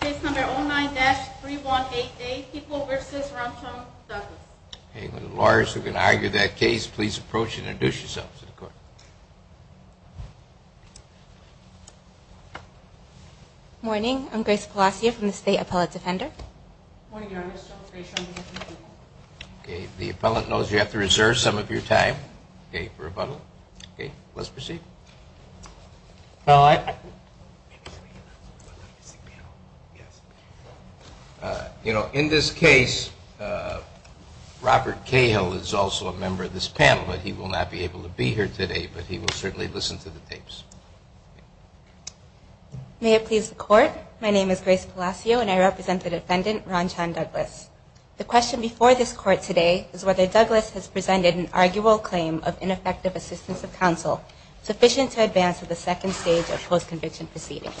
Case number 09-3188, Peoples v. Rumsfeld, Douglas. Okay, lawyers who can argue that case, please approach and introduce yourselves to the court. Morning, I'm Grace Palacio from the State Appellate Defender. Morning, Your Honor. I'm still Grace Palacio. Okay, the appellant knows you have to reserve some of your time, okay, for rebuttal. Okay, let's proceed. You know, in this case, Robert Cahill is also a member of this panel, but he will not be able to be here today, but he will certainly listen to the tapes. May it please the court, my name is Grace Palacio and I represent the defendant, Ron Chan Douglas. The question before this court today is whether Douglas has presented an arguable claim of ineffective assistance of counsel. Sufficient to advance to the second stage of post-conviction proceedings.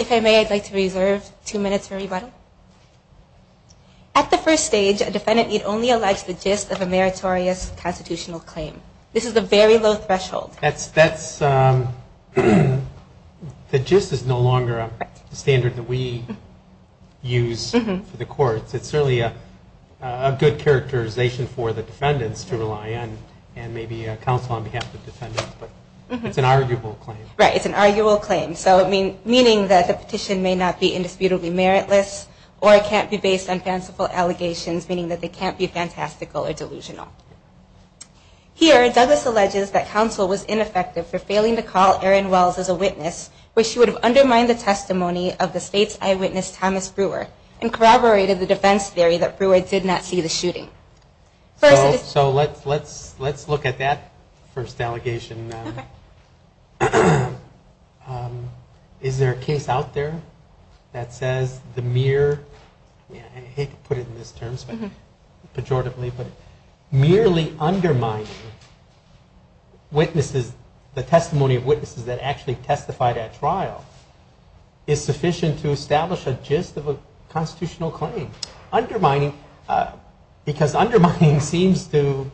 If I may, I'd like to reserve two minutes for rebuttal. At the first stage, a defendant need only allege the gist of a meritorious constitutional claim. This is a very low threshold. That's, that's, the gist is no longer a standard that we use for the courts. It's certainly a good characterization for the defendants to rely on, and maybe counsel on behalf of defendants, but it's an arguable claim. Right, it's an arguable claim. So, meaning that the petition may not be indisputably meritless, or it can't be based on fanciful allegations, meaning that they can't be fantastical or delusional. Here, Douglas alleges that counsel was ineffective for failing to call Erin Wells as a witness, which would have undermined the testimony of the state's eyewitness, Thomas Brewer, and corroborated the defense theory that Brewer did not see the shooting. So, let's, let's, let's look at that first allegation. Okay. Is there a case out there that says the mere, I hate to put it in this term, pejoratively, but merely undermining witnesses, the testimony of witnesses that actually testified at trial, is sufficient to establish a gist of a constitutional claim? Undermining, because undermining seems to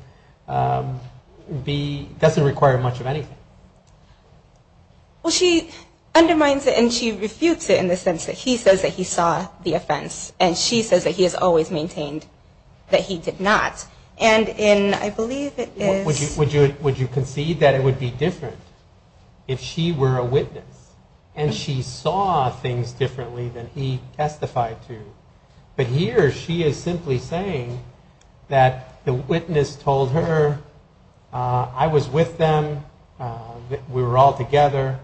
be, doesn't require much of anything. Well, she undermines it, and she refutes it in the sense that he says that he saw the offense, and she says that he has always maintained that he did not. And in, I believe it is... Would you, would you, would you concede that it would be different if she were a witness, and she saw things differently than he testified to? But here, she is simply saying that the witness told her, I was with them, we were all together,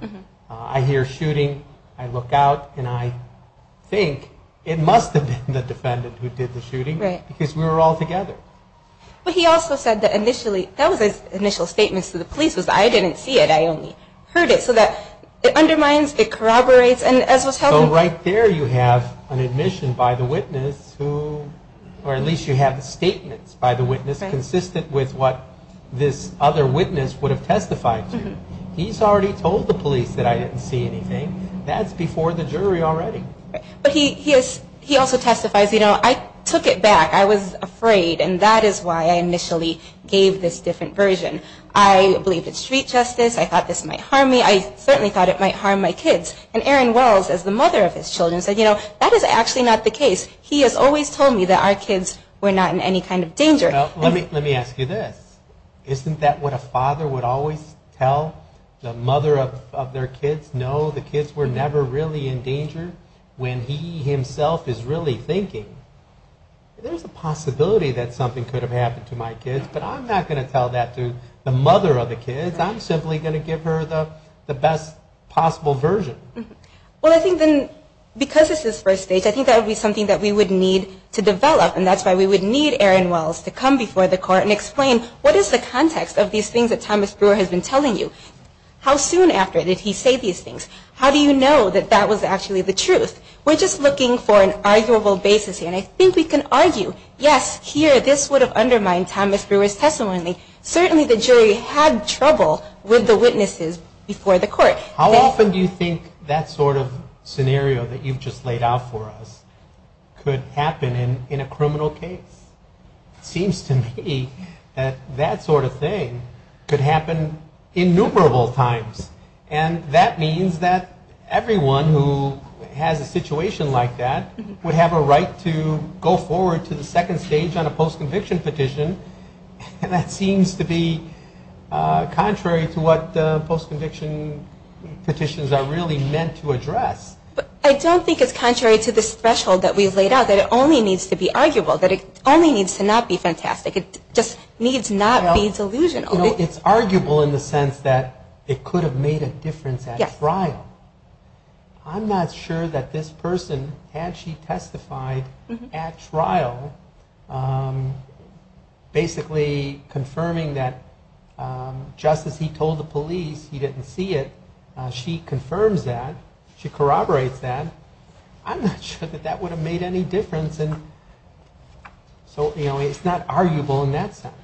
I hear shooting, I look out, and I think it must have been the defendant who did the shooting, because we were all together. But he also said that initially, that was his initial statement to the police, was I didn't see it, I only heard it. So that undermines, it corroborates, and as was held... So right there you have an admission by the witness who, or at least you have statements by the witness consistent with what this other witness would have testified to. He's already told the police that I didn't see anything. That's before the jury already. But he is, he also testifies, you know, I took it back, I was afraid, and that is why I initially gave this different version. I believed it's street justice, I thought this might harm me, I certainly thought it might harm my kids. And Aaron Wells, as the mother of his children, said, you know, that is actually not the case. Let me ask you this. Isn't that what a father would always tell the mother of their kids? No, the kids were never really in danger, when he himself is really thinking, there's a possibility that something could have happened to my kids, but I'm not going to tell that to the mother of the kids, I'm simply going to give her the best possible version. Well, I think then, because it's his first stage, I think that would be something that we would need to develop, and that's why we would need Aaron Wells to come before the court and explain, what is the context of these things that Thomas Brewer has been telling you? How soon after did he say these things? How do you know that that was actually the truth? We're just looking for an arguable basis here, and I think we can argue, yes, here, this would have undermined Thomas Brewer's testimony. Certainly the jury had trouble with the witnesses before the court. How often do you think that sort of scenario that you've just laid out for us could happen in a criminal case? It seems to me that that sort of thing could happen innumerable times, and that means that everyone who has a situation like that would have a right to go forward to the second stage on a post-conviction petition, and that seems to be contrary to what post-conviction petitions are really meant to address. I don't think it's contrary to the threshold that we've laid out, that it only needs to be arguable, that it only needs to not be fantastic. It just needs not be delusional. It's arguable in the sense that it could have made a difference at trial. I'm not sure that this person, had she testified at trial, basically confirming that just as he told the police he didn't see it, she confirms that, she corroborates that, I'm not sure that that would have made any difference. So it's not arguable in that sense.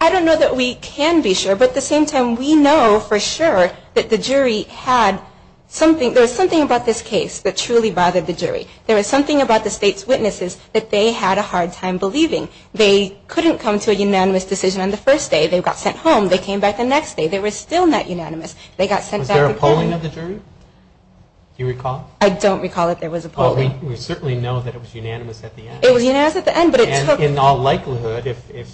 I don't know that we can be sure, but at the same time, we know for sure that the jury had something, there was something about this case that truly bothered the jury. There was something about the state's witnesses that they had a hard time believing. They couldn't come to a unanimous decision on the first day. They got sent home. They came back the next day. They were still not unanimous. They got sent back again. Was there a polling of the jury? Do you recall? I don't recall that there was a polling. Well, we certainly know that it was unanimous at the end. It was unanimous at the end, but it took… And in all likelihood, if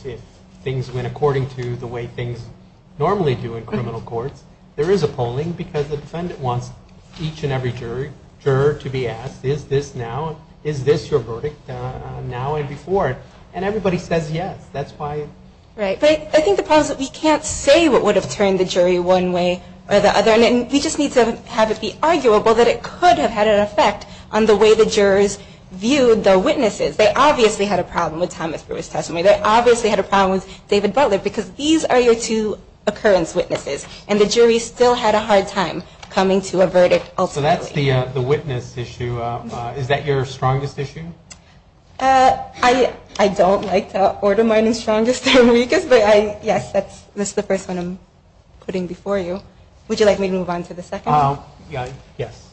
things went according to the way things normally do in criminal courts, there is a polling because the defendant wants each and every juror to be asked, is this your verdict now and before? And everybody says yes. That's why… Right. But I think the problem is that we can't say what would have turned the jury one way or the other, and we just need to have it be arguable that it could have had an effect on the way the jurors viewed the witnesses. They obviously had a problem with Thomas Brewer's testimony. They obviously had a problem with David Butler because these are your two occurrence witnesses, and the jury still had a hard time coming to a verdict ultimately. So that's the witness issue. Is that your strongest issue? I don't like to order mine as strongest or weakest, but yes, that's the first one I'm putting before you. Would you like me to move on to the second? Yes.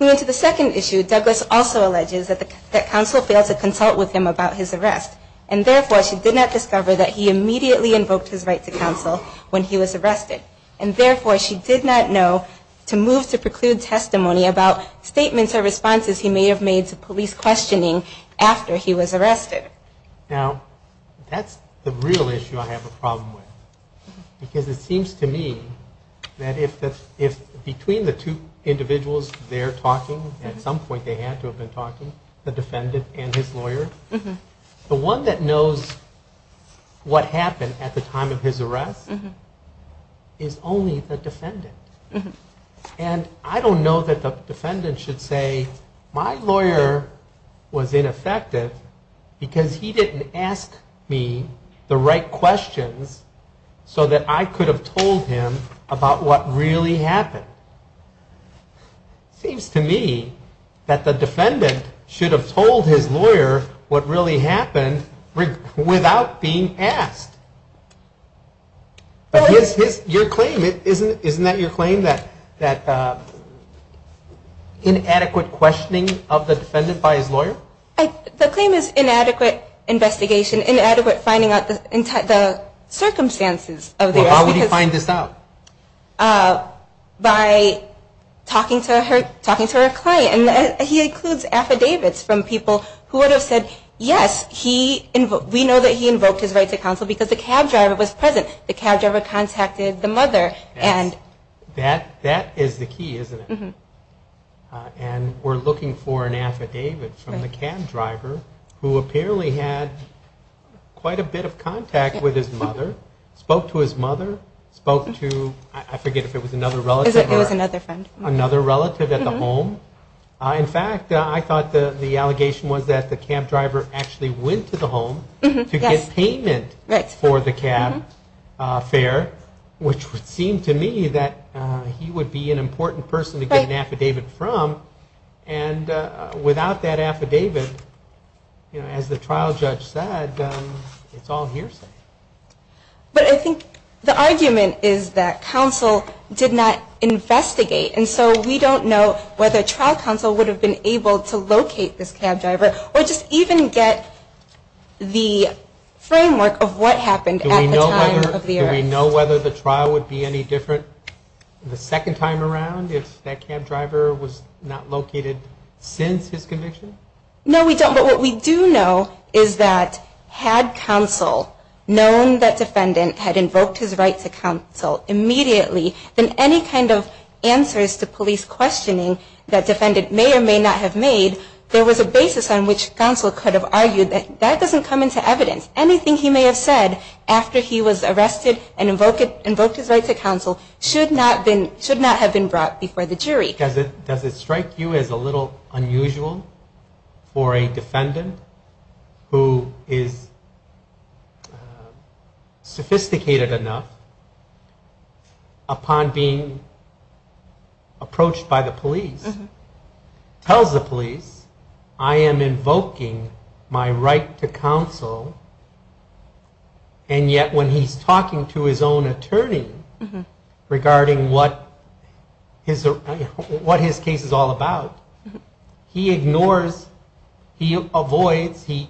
Moving to the second issue, Douglas also alleges that counsel failed to consult with him about his arrest, and therefore she did not discover that he immediately invoked his right to counsel when he was arrested, and therefore she did not know to move to preclude testimony about statements or responses he may have made to police questioning after he was arrested. Now, that's the real issue I have a problem with because it seems to me that if between the two individuals they're talking, at some point they had to have been talking, the defendant and his lawyer, the one that knows what happened at the time of his arrest is only the defendant. And I don't know that the defendant should say, my lawyer was ineffective because he didn't ask me the right questions so that I could have told him about what really happened. It seems to me that the defendant should have told his lawyer what really happened without being asked. But isn't that your claim, that inadequate questioning of the defendant by his lawyer? The claim is inadequate investigation, inadequate finding out the circumstances of the arrest. Well, how would he find this out? By talking to her client. And he includes affidavits from people who would have said, yes, we know that he invoked his right to counsel because the cab driver was present. The cab driver contacted the mother. That is the key, isn't it? And we're looking for an affidavit from the cab driver who apparently had quite a bit of contact with his mother, spoke to his mother, spoke to, I forget if it was another relative or another relative at the home. In fact, I thought the allegation was that the cab driver actually went to the home to get payment for the cab fare, which would seem to me that he would be an important person to get an affidavit from. And without that affidavit, as the trial judge said, it's all hearsay. But I think the argument is that counsel did not investigate. And so we don't know whether trial counsel would have been able to locate this cab driver or just even get the framework of what happened at the time of the arrest. Do we know whether the trial would be any different the second time around if that cab driver was not located since his conviction? No, we don't. But what we do know is that had counsel known that defendant had invoked his right to counsel immediately, then any kind of answers to police questioning that defendant may or may not have made, there was a basis on which counsel could have argued that that doesn't come into evidence. Anything he may have said after he was arrested and invoked his right to counsel should not have been brought before the jury. Does it strike you as a little unusual for a defendant who is sophisticated enough upon being approached by the police, tells the police, I am invoking my right to counsel, and yet when he's talking to his own attorney regarding what his case is all about, he ignores, he avoids, he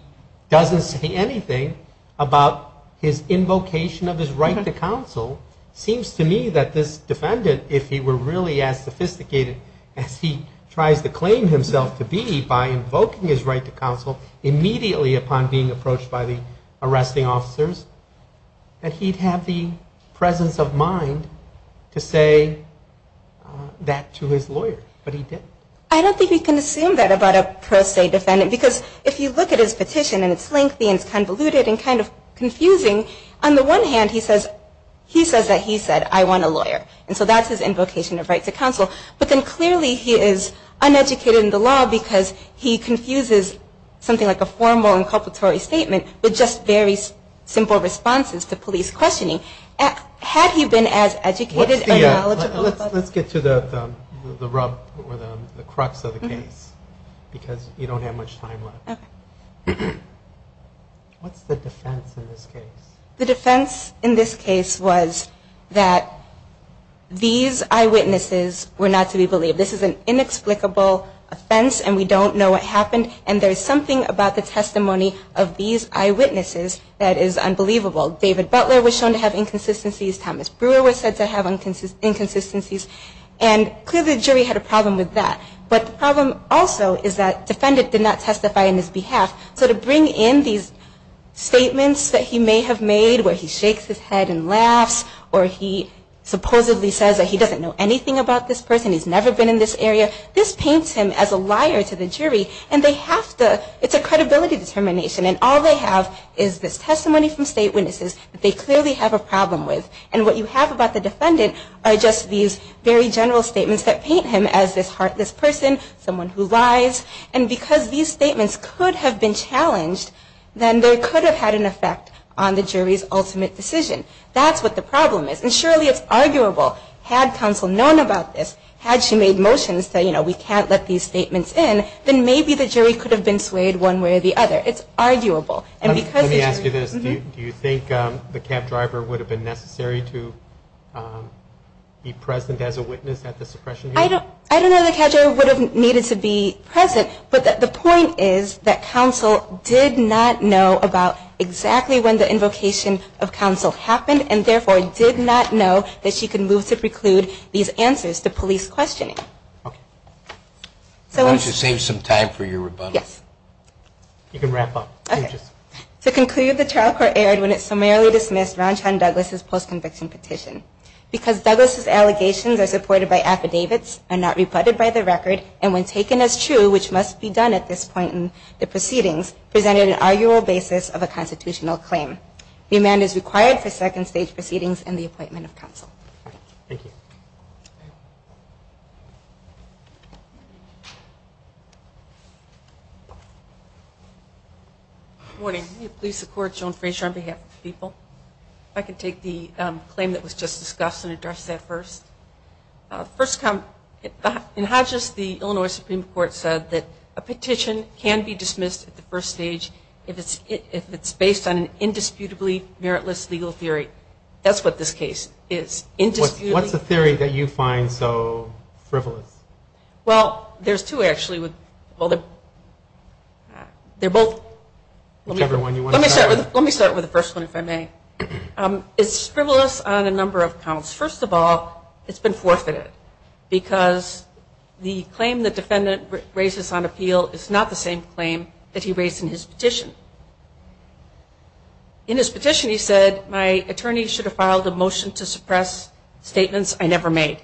doesn't say anything about his invocation of his right to counsel. It seems to me that this defendant, if he were really as sophisticated as he tries to claim himself to be by invoking his right to counsel immediately upon being approached by the arresting officers, that he'd have the presence of mind to say that to his lawyer. But he didn't. I don't think you can assume that about a pro se defendant. Because if you look at his petition, and it's lengthy and it's convoluted and kind of confusing, on the one hand he says that he said, I want a lawyer. And so that's his invocation of right to counsel. But then clearly he is uneducated in the law because he confuses something like a formal inculpatory statement with just very simple responses to police questioning. Had he been as educated or knowledgeable? Let's get to the crux of the case, because you don't have much time left. What's the defense in this case? The defense in this case was that these eyewitnesses were not to be believed. This is an inexplicable offense, and we don't know what happened. And there's something about the testimony of these eyewitnesses that is unbelievable. David Butler was shown to have inconsistencies. Thomas Brewer was said to have inconsistencies. And clearly the jury had a problem with that. But the problem also is that the defendant did not testify on his behalf. So to bring in these statements that he may have made, where he shakes his head and laughs, or he supposedly says that he doesn't know anything about this person, he's never been in this area, this paints him as a liar to the jury. And it's a credibility determination. And all they have is this testimony from state witnesses that they clearly have a problem with. And what you have about the defendant are just these very general statements that paint him as this person, someone who lies. And because these statements could have been challenged, then they could have had an effect on the jury's ultimate decision. That's what the problem is. And surely it's arguable. Had counsel known about this, had she made motions that, you know, we can't let these statements in, then maybe the jury could have been swayed one way or the other. It's arguable. Let me ask you this. Do you think the cab driver would have been necessary to be present as a witness at the suppression hearing? I don't know the cab driver would have needed to be present. But the point is that counsel did not know about exactly when the invocation of counsel happened and, therefore, did not know that she could move to preclude these answers to police questioning. Okay. Why don't you save some time for your rebuttal? Yes. You can wrap up. Okay. To conclude, the trial court erred when it summarily dismissed Ronchon Douglas' post-conviction petition. Because Douglas' allegations are supported by affidavits and not rebutted by the record, and when taken as true, which must be done at this point in the proceedings, presented an arguable basis of a constitutional claim. The amendment is required for second stage proceedings and the appointment of counsel. Thank you. Good morning. Can you please support Joan Fraser on behalf of the people? If I could take the claim that was just discussed and address that first. In Hodges, the Illinois Supreme Court said that a petition can be dismissed at the first stage if it's based on an indisputably meritless legal theory. That's what this case is. Indisputably. What's the theory that you find so frivolous? Well, there's two, actually. Well, they're both. Whichever one you want to start with. Let me start with the first one, if I may. It's frivolous on a number of counts. First of all, it's been forfeited, because the claim the defendant raises on appeal is not the same claim that he raised in his petition. In his petition, he said, my attorney should have filed a motion to suppress statements I never made.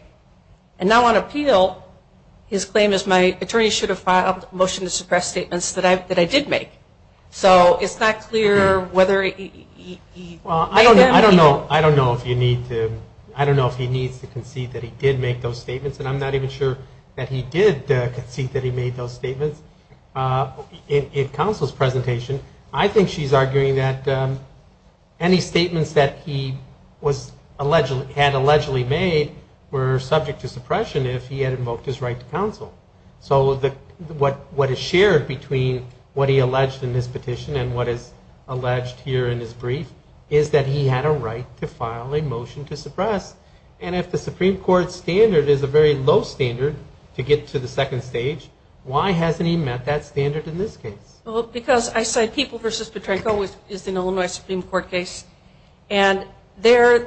And now on appeal, his claim is my attorney should have filed a motion to suppress statements that I did make. So it's not clear whether he made them or not. I don't know if he needs to concede that he did make those statements, and I'm not even sure that he did concede that he made those statements. In counsel's presentation, I think she's arguing that any statements that he had allegedly made were subject to suppression if he had invoked his right to counsel. So what is shared between what he alleged in his petition and what is alleged here in his brief is that he had a right to file a motion to suppress. And if the Supreme Court standard is a very low standard to get to the second stage, why hasn't he met that standard in this case? Well, because I cite People v. Petrenko, which is an Illinois Supreme Court case, and there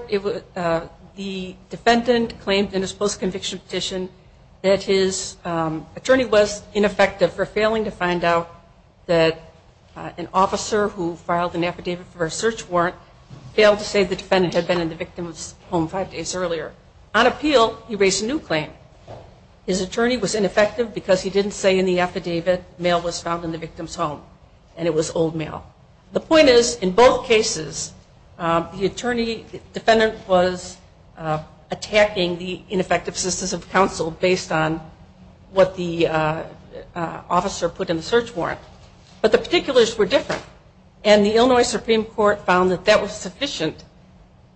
the defendant claimed in his post-conviction petition that his attorney was ineffective for failing to find out that an officer who filed an affidavit for a search warrant failed to say the defendant had been in the victim's home five days earlier. On appeal, he raised a new claim. His attorney was ineffective because he didn't say in the affidavit mail was found in the victim's home and it was old mail. The point is, in both cases, the defendant was attacking the ineffective systems of counsel based on what the officer put in the search warrant. But the particulars were different. And the Illinois Supreme Court found that that was sufficient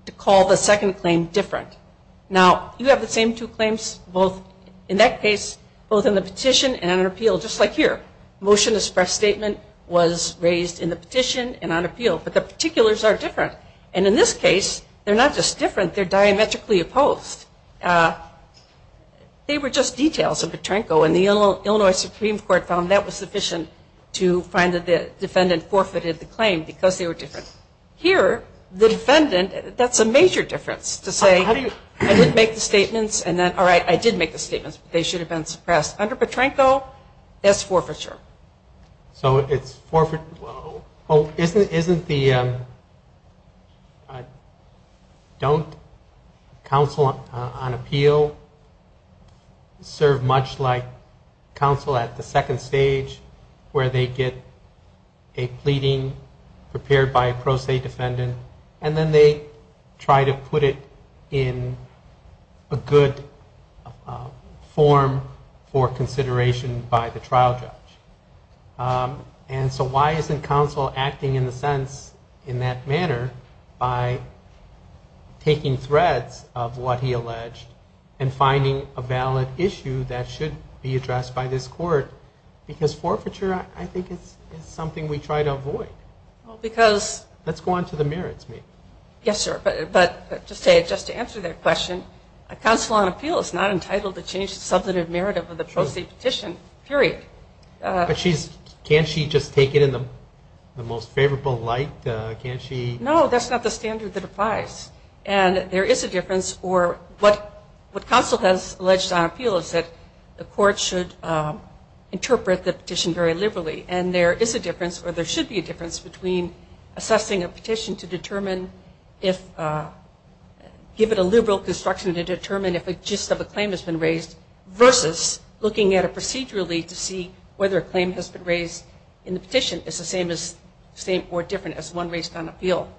to call the second claim different. Now, you have the same two claims in that case, both in the petition and on appeal, just like here. Motion to suppress statement was raised in the petition and on appeal, but the particulars are different. And in this case, they're not just different, they're diametrically opposed. They were just details of Petrenko, and the Illinois Supreme Court found that was sufficient to find that the defendant forfeited the claim because they were different. Here, the defendant, that's a major difference to say, I didn't make the statements, and then, all right, I did make the statements, but they should have been suppressed. Under Petrenko, that's forfeiture. So it's forfeiture. Well, isn't the don't counsel on appeal serve much like counsel at the second stage, where they get a pleading prepared by a pro se defendant, and then they try to put it in a good form for consideration by the trial judge? And so why isn't counsel acting in the sense, in that manner, by taking threads of what he alleged and finding a valid issue that should be addressed by this court? Because forfeiture, I think, is something we try to avoid. Let's go on to the merits. Yes, sir. But just to answer that question, a counsel on appeal is not entitled to change the substantive merit of the pro se petition, period. But can't she just take it in the most favorable light? No, that's not the standard that applies. And there is a difference, or what counsel has alleged on appeal is that the court should interpret the petition very liberally. And there is a difference, or there should be a difference, between assessing a petition to determine if, give it a liberal construction to determine if a gist of a claim has been raised, versus looking at it procedurally to see whether a claim has been raised in the petition. It's the same or different as one raised on appeal.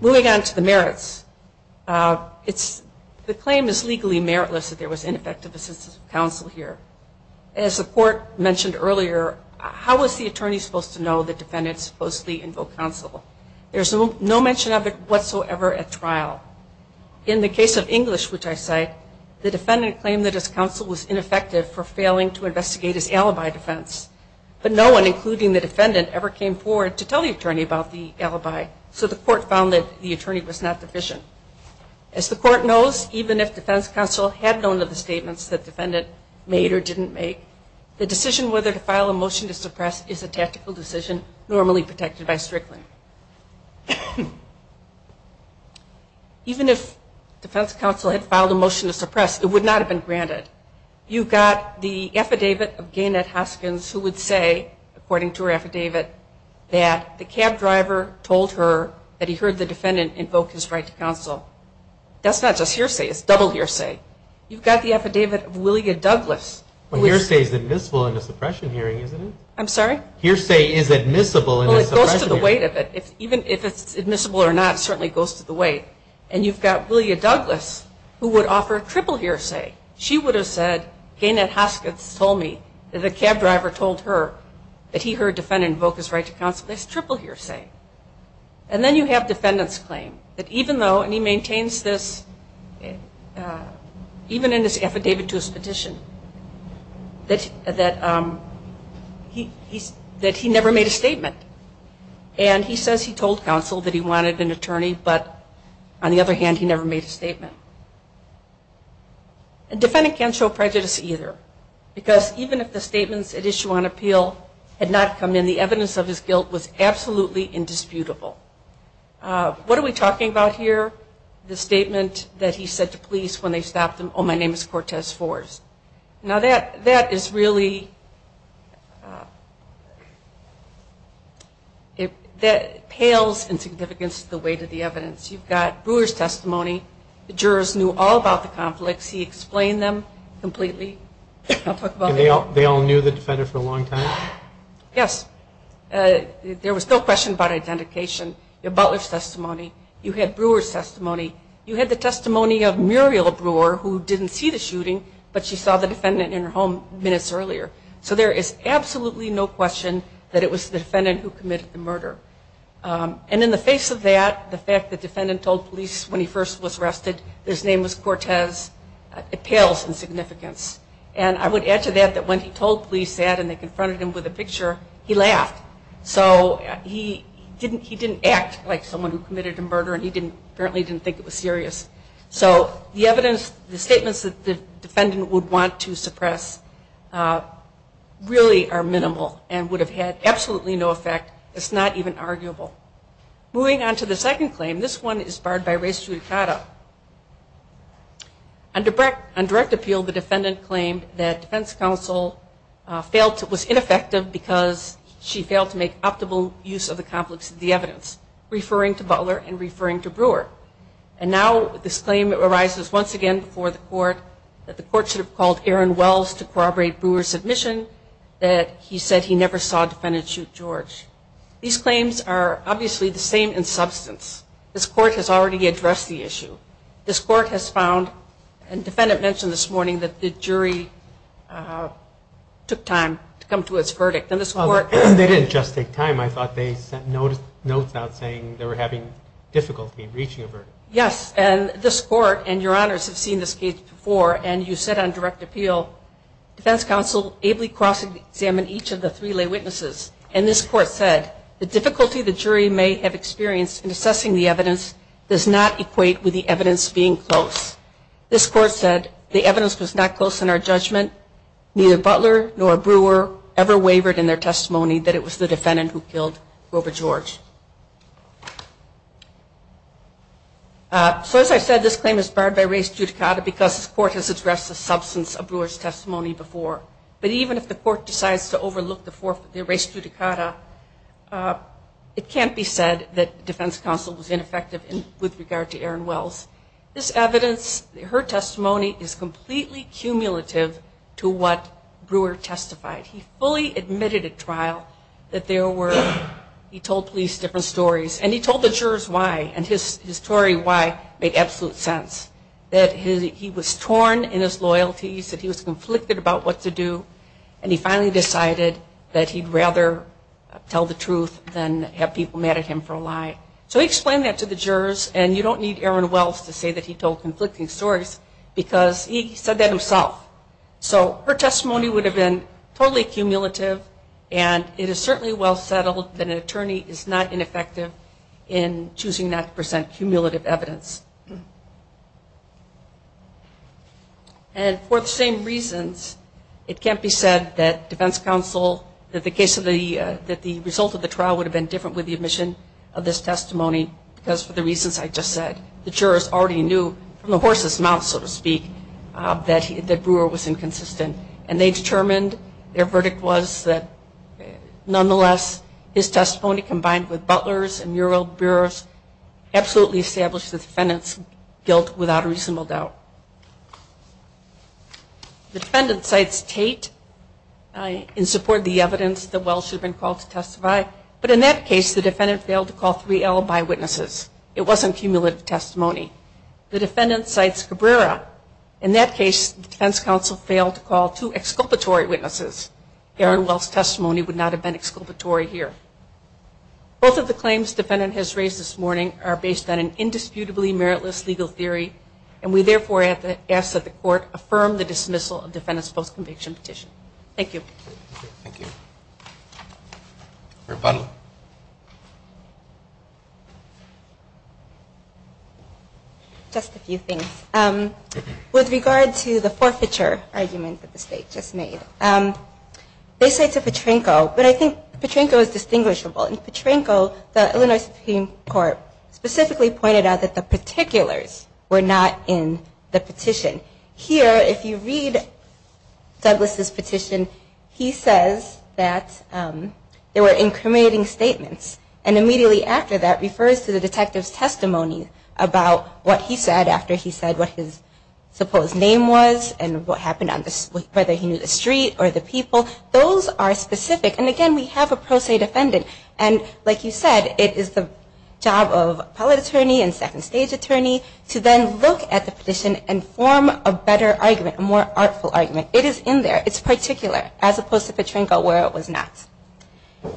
Moving on to the merits. The claim is legally meritless that there was ineffective assistance of counsel here. As the court mentioned earlier, how was the attorney supposed to know the defendant supposedly invoked counsel? There's no mention of it whatsoever at trial. In the case of English, which I cite, the defendant claimed that his counsel was ineffective for failing to investigate his alibi defense. But no one, including the defendant, ever came forward to tell the attorney about the alibi. So the court found that the attorney was not deficient. As the court knows, even if defense counsel had known of the statements the defendant made or didn't make, the decision whether to file a motion to suppress is a tactical decision normally protected by Strickland. Even if defense counsel had filed a motion to suppress, it would not have been granted. You've got the affidavit of Gaynette Hoskins who would say, according to her affidavit, that the cab driver told her that he heard the defendant invoke his right to counsel. That's not just hearsay. It's double hearsay. You've got the affidavit of Willia Douglas. Well, hearsay is admissible in a suppression hearing, isn't it? I'm sorry? Hearsay is admissible in a suppression hearing. Well, it goes to the weight of it. Even if it's admissible or not, it certainly goes to the weight. And you've got Willia Douglas who would offer a triple hearsay. She would have said, Gaynette Hoskins told me that the cab driver told her that he heard defendant invoke his right to counsel. That's triple hearsay. And then you have defendant's claim that even though, and he maintains this even in his affidavit to his petition, that he never made a statement. And he says he told counsel that he wanted an attorney, but on the other hand, he never made a statement. A defendant can't show prejudice either because even if the statements at issue on appeal had not come in, the evidence of his guilt was absolutely indisputable. What are we talking about here? The statement that he said to police when they stopped him, oh, my name is Cortez Forrest. Now, that is really, that pales in significance to the weight of the evidence. You've got Brewer's testimony. The jurors knew all about the conflicts. He explained them completely. And they all knew the defendant for a long time? Yes. There was no question about identification. You had Butler's testimony. You had Brewer's testimony. You had the testimony of Muriel Brewer, who didn't see the shooting, but she saw the defendant in her home minutes earlier. So there is absolutely no question that it was the defendant who committed the murder. And in the face of that, the fact that defendant told police when he first was arrested his name was Cortez, it pales in significance. And I would add to that that when he told police that and they confronted him with a picture, he laughed. So he didn't act like someone who committed a murder, and he apparently didn't think it was serious. So the evidence, the statements that the defendant would want to suppress really are minimal and would have had absolutely no effect. It's not even arguable. Moving on to the second claim, this one is barred by res judicata. On direct appeal, the defendant claimed that defense counsel failed to, was ineffective because she failed to make optimal use of the conflicts of the evidence, referring to Butler and referring to Brewer. And now this claim arises once again before the court that the court should have called Aaron Wells to corroborate Brewer's admission that he said he never saw a defendant shoot George. These claims are obviously the same in substance. This court has already addressed the issue. This court has found, and defendant mentioned this morning, that the jury took time to come to its verdict. They didn't just take time. I thought they sent notes out saying they were having difficulty reaching a verdict. Yes, and this court and your honors have seen this case before, and you said on direct appeal, defense counsel ably cross-examined each of the three lay witnesses, and this court said the difficulty the jury may have experienced in assessing the evidence does not equate with the evidence being close. This court said the evidence was not close in our judgment. Neither Butler nor Brewer ever wavered in their testimony that it was the defendant who killed Grover George. So as I said, this claim is barred by res judicata because this court has addressed the substance of Brewer's testimony before. But even if the court decides to overlook the res judicata, it can't be said that defense counsel was ineffective with regard to Aaron Wells. This evidence, her testimony, is completely cumulative to what Brewer testified. He fully admitted at trial that there were, he told police different stories, and he told the jurors why, and his story why made absolute sense, that he was torn in his loyalties, that he was conflicted about what to do, and he finally decided that he'd rather tell the truth than have people mad at him for a lie. So he explained that to the jurors, and you don't need Aaron Wells to say that he told conflicting stories because he said that himself. So her testimony would have been totally cumulative, and it is certainly well settled that an attorney is not ineffective in choosing not to present cumulative evidence. And for the same reasons, it can't be said that defense counsel, that the case of the, that the result of the trial would have been different with the admission of this testimony, because for the reasons I just said, the jurors already knew from the horse's mouth, so to speak, that Brewer was inconsistent. And they determined their verdict was that nonetheless, his testimony combined with Butler's absolutely established the defendant's guilt without a reasonable doubt. The defendant cites Tate in support of the evidence that Wells should have been called to testify, but in that case, the defendant failed to call three alibi witnesses. It wasn't cumulative testimony. The defendant cites Cabrera. In that case, the defense counsel failed to call two exculpatory witnesses. Aaron Wells' testimony would not have been exculpatory here. Both of the claims defendant has raised this morning are based on an indisputably meritless legal theory, and we therefore ask that the court affirm the dismissal of defendant's post-conviction petition. Thank you. Thank you. Rebuttal. Just a few things. With regard to the forfeiture argument that the State just made, they say to Petrenko, but I think Petrenko is distinguishable. In Petrenko, the Illinois Supreme Court specifically pointed out that the particulars were not in the petition. Here, if you read Douglas' petition, he says that there were incriminating statements, and immediately after that refers to the detective's testimony about what he said after he said what his supposed name was and what happened on the street, whether he knew the street or the people. Those are specific, and again, we have a pro se defendant. And like you said, it is the job of appellate attorney and second stage attorney to then look at the petition and form a better argument, a more artful argument. It is in there. It's particular, as opposed to Petrenko where it was not.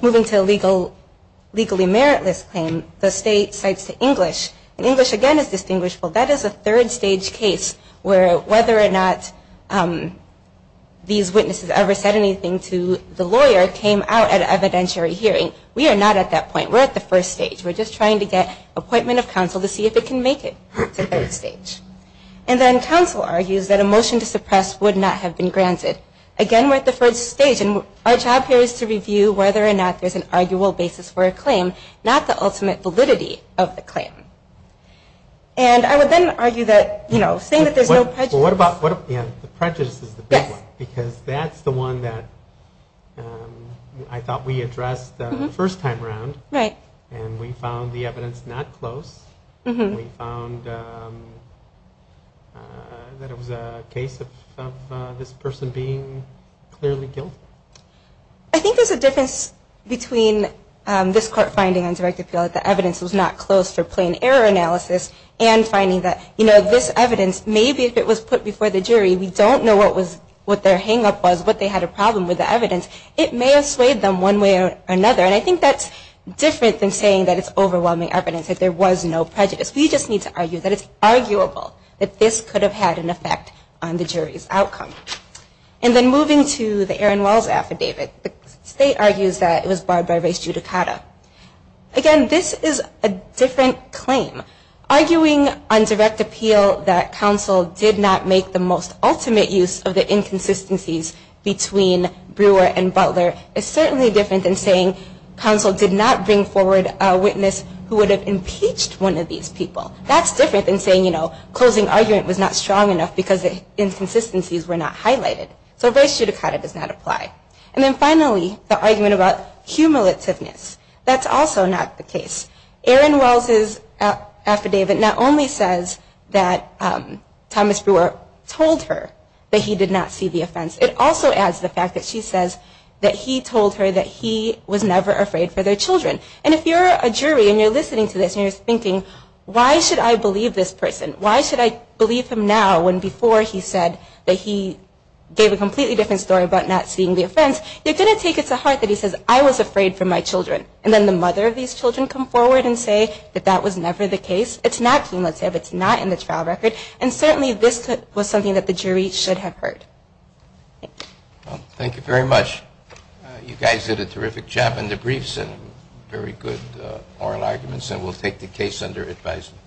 Moving to a legally meritless claim, the State cites to English, and English again is distinguishable. That is a third stage case where whether or not these witnesses ever said anything to the lawyer came out at an evidentiary hearing. We are not at that point. We're at the first stage. We're just trying to get appointment of counsel to see if it can make it to third stage. And then counsel argues that a motion to suppress would not have been granted. Again, we're at the first stage, and our job here is to review whether or not there's an arguable basis for a claim, not the ultimate validity of the claim. And I would then argue that, you know, saying that there's no prejudice. Well, what about, yeah, the prejudice is the big one. Yes. Because that's the one that I thought we addressed the first time around. Right. And we found the evidence not close. We found that it was a case of this person being clearly guilty. I think there's a difference between this court finding on direct appeal that the evidence was not close for plain error analysis and finding that, you know, this evidence, maybe if it was put before the jury, we don't know what their hangup was, what they had a problem with the evidence. It may have swayed them one way or another, and I think that's different than saying that it's overwhelming evidence, that there was no prejudice. We just need to argue that it's arguable that this could have had an effect on the jury's outcome. And then moving to the Aaron Wells affidavit, the state argues that it was barred by race judicata. Again, this is a different claim. Arguing on direct appeal that counsel did not make the most ultimate use of the inconsistencies between Brewer and Butler is certainly different than saying counsel did not bring forward a witness who would have impeached one of these people. That's different than saying, you know, closing argument was not strong enough because the inconsistencies were not highlighted. So race judicata does not apply. And then finally, the argument about cumulativeness. That's also not the case. Aaron Wells' affidavit not only says that Thomas Brewer told her that he did not see the offense. It also adds the fact that she says that he told her that he was never afraid for their children. And if you're a jury and you're listening to this and you're thinking, why should I believe this person? Why should I believe him now when before he said that he gave a completely different story about not seeing the offense? You're going to take it to heart that he says, I was afraid for my children. And then the mother of these children come forward and say that that was never the case. It's not cumulative. It's not in the trial record. And certainly this was something that the jury should have heard. Thank you. Well, thank you very much. You guys did a terrific job in the briefs and very good oral arguments. And we'll take the case under advisement.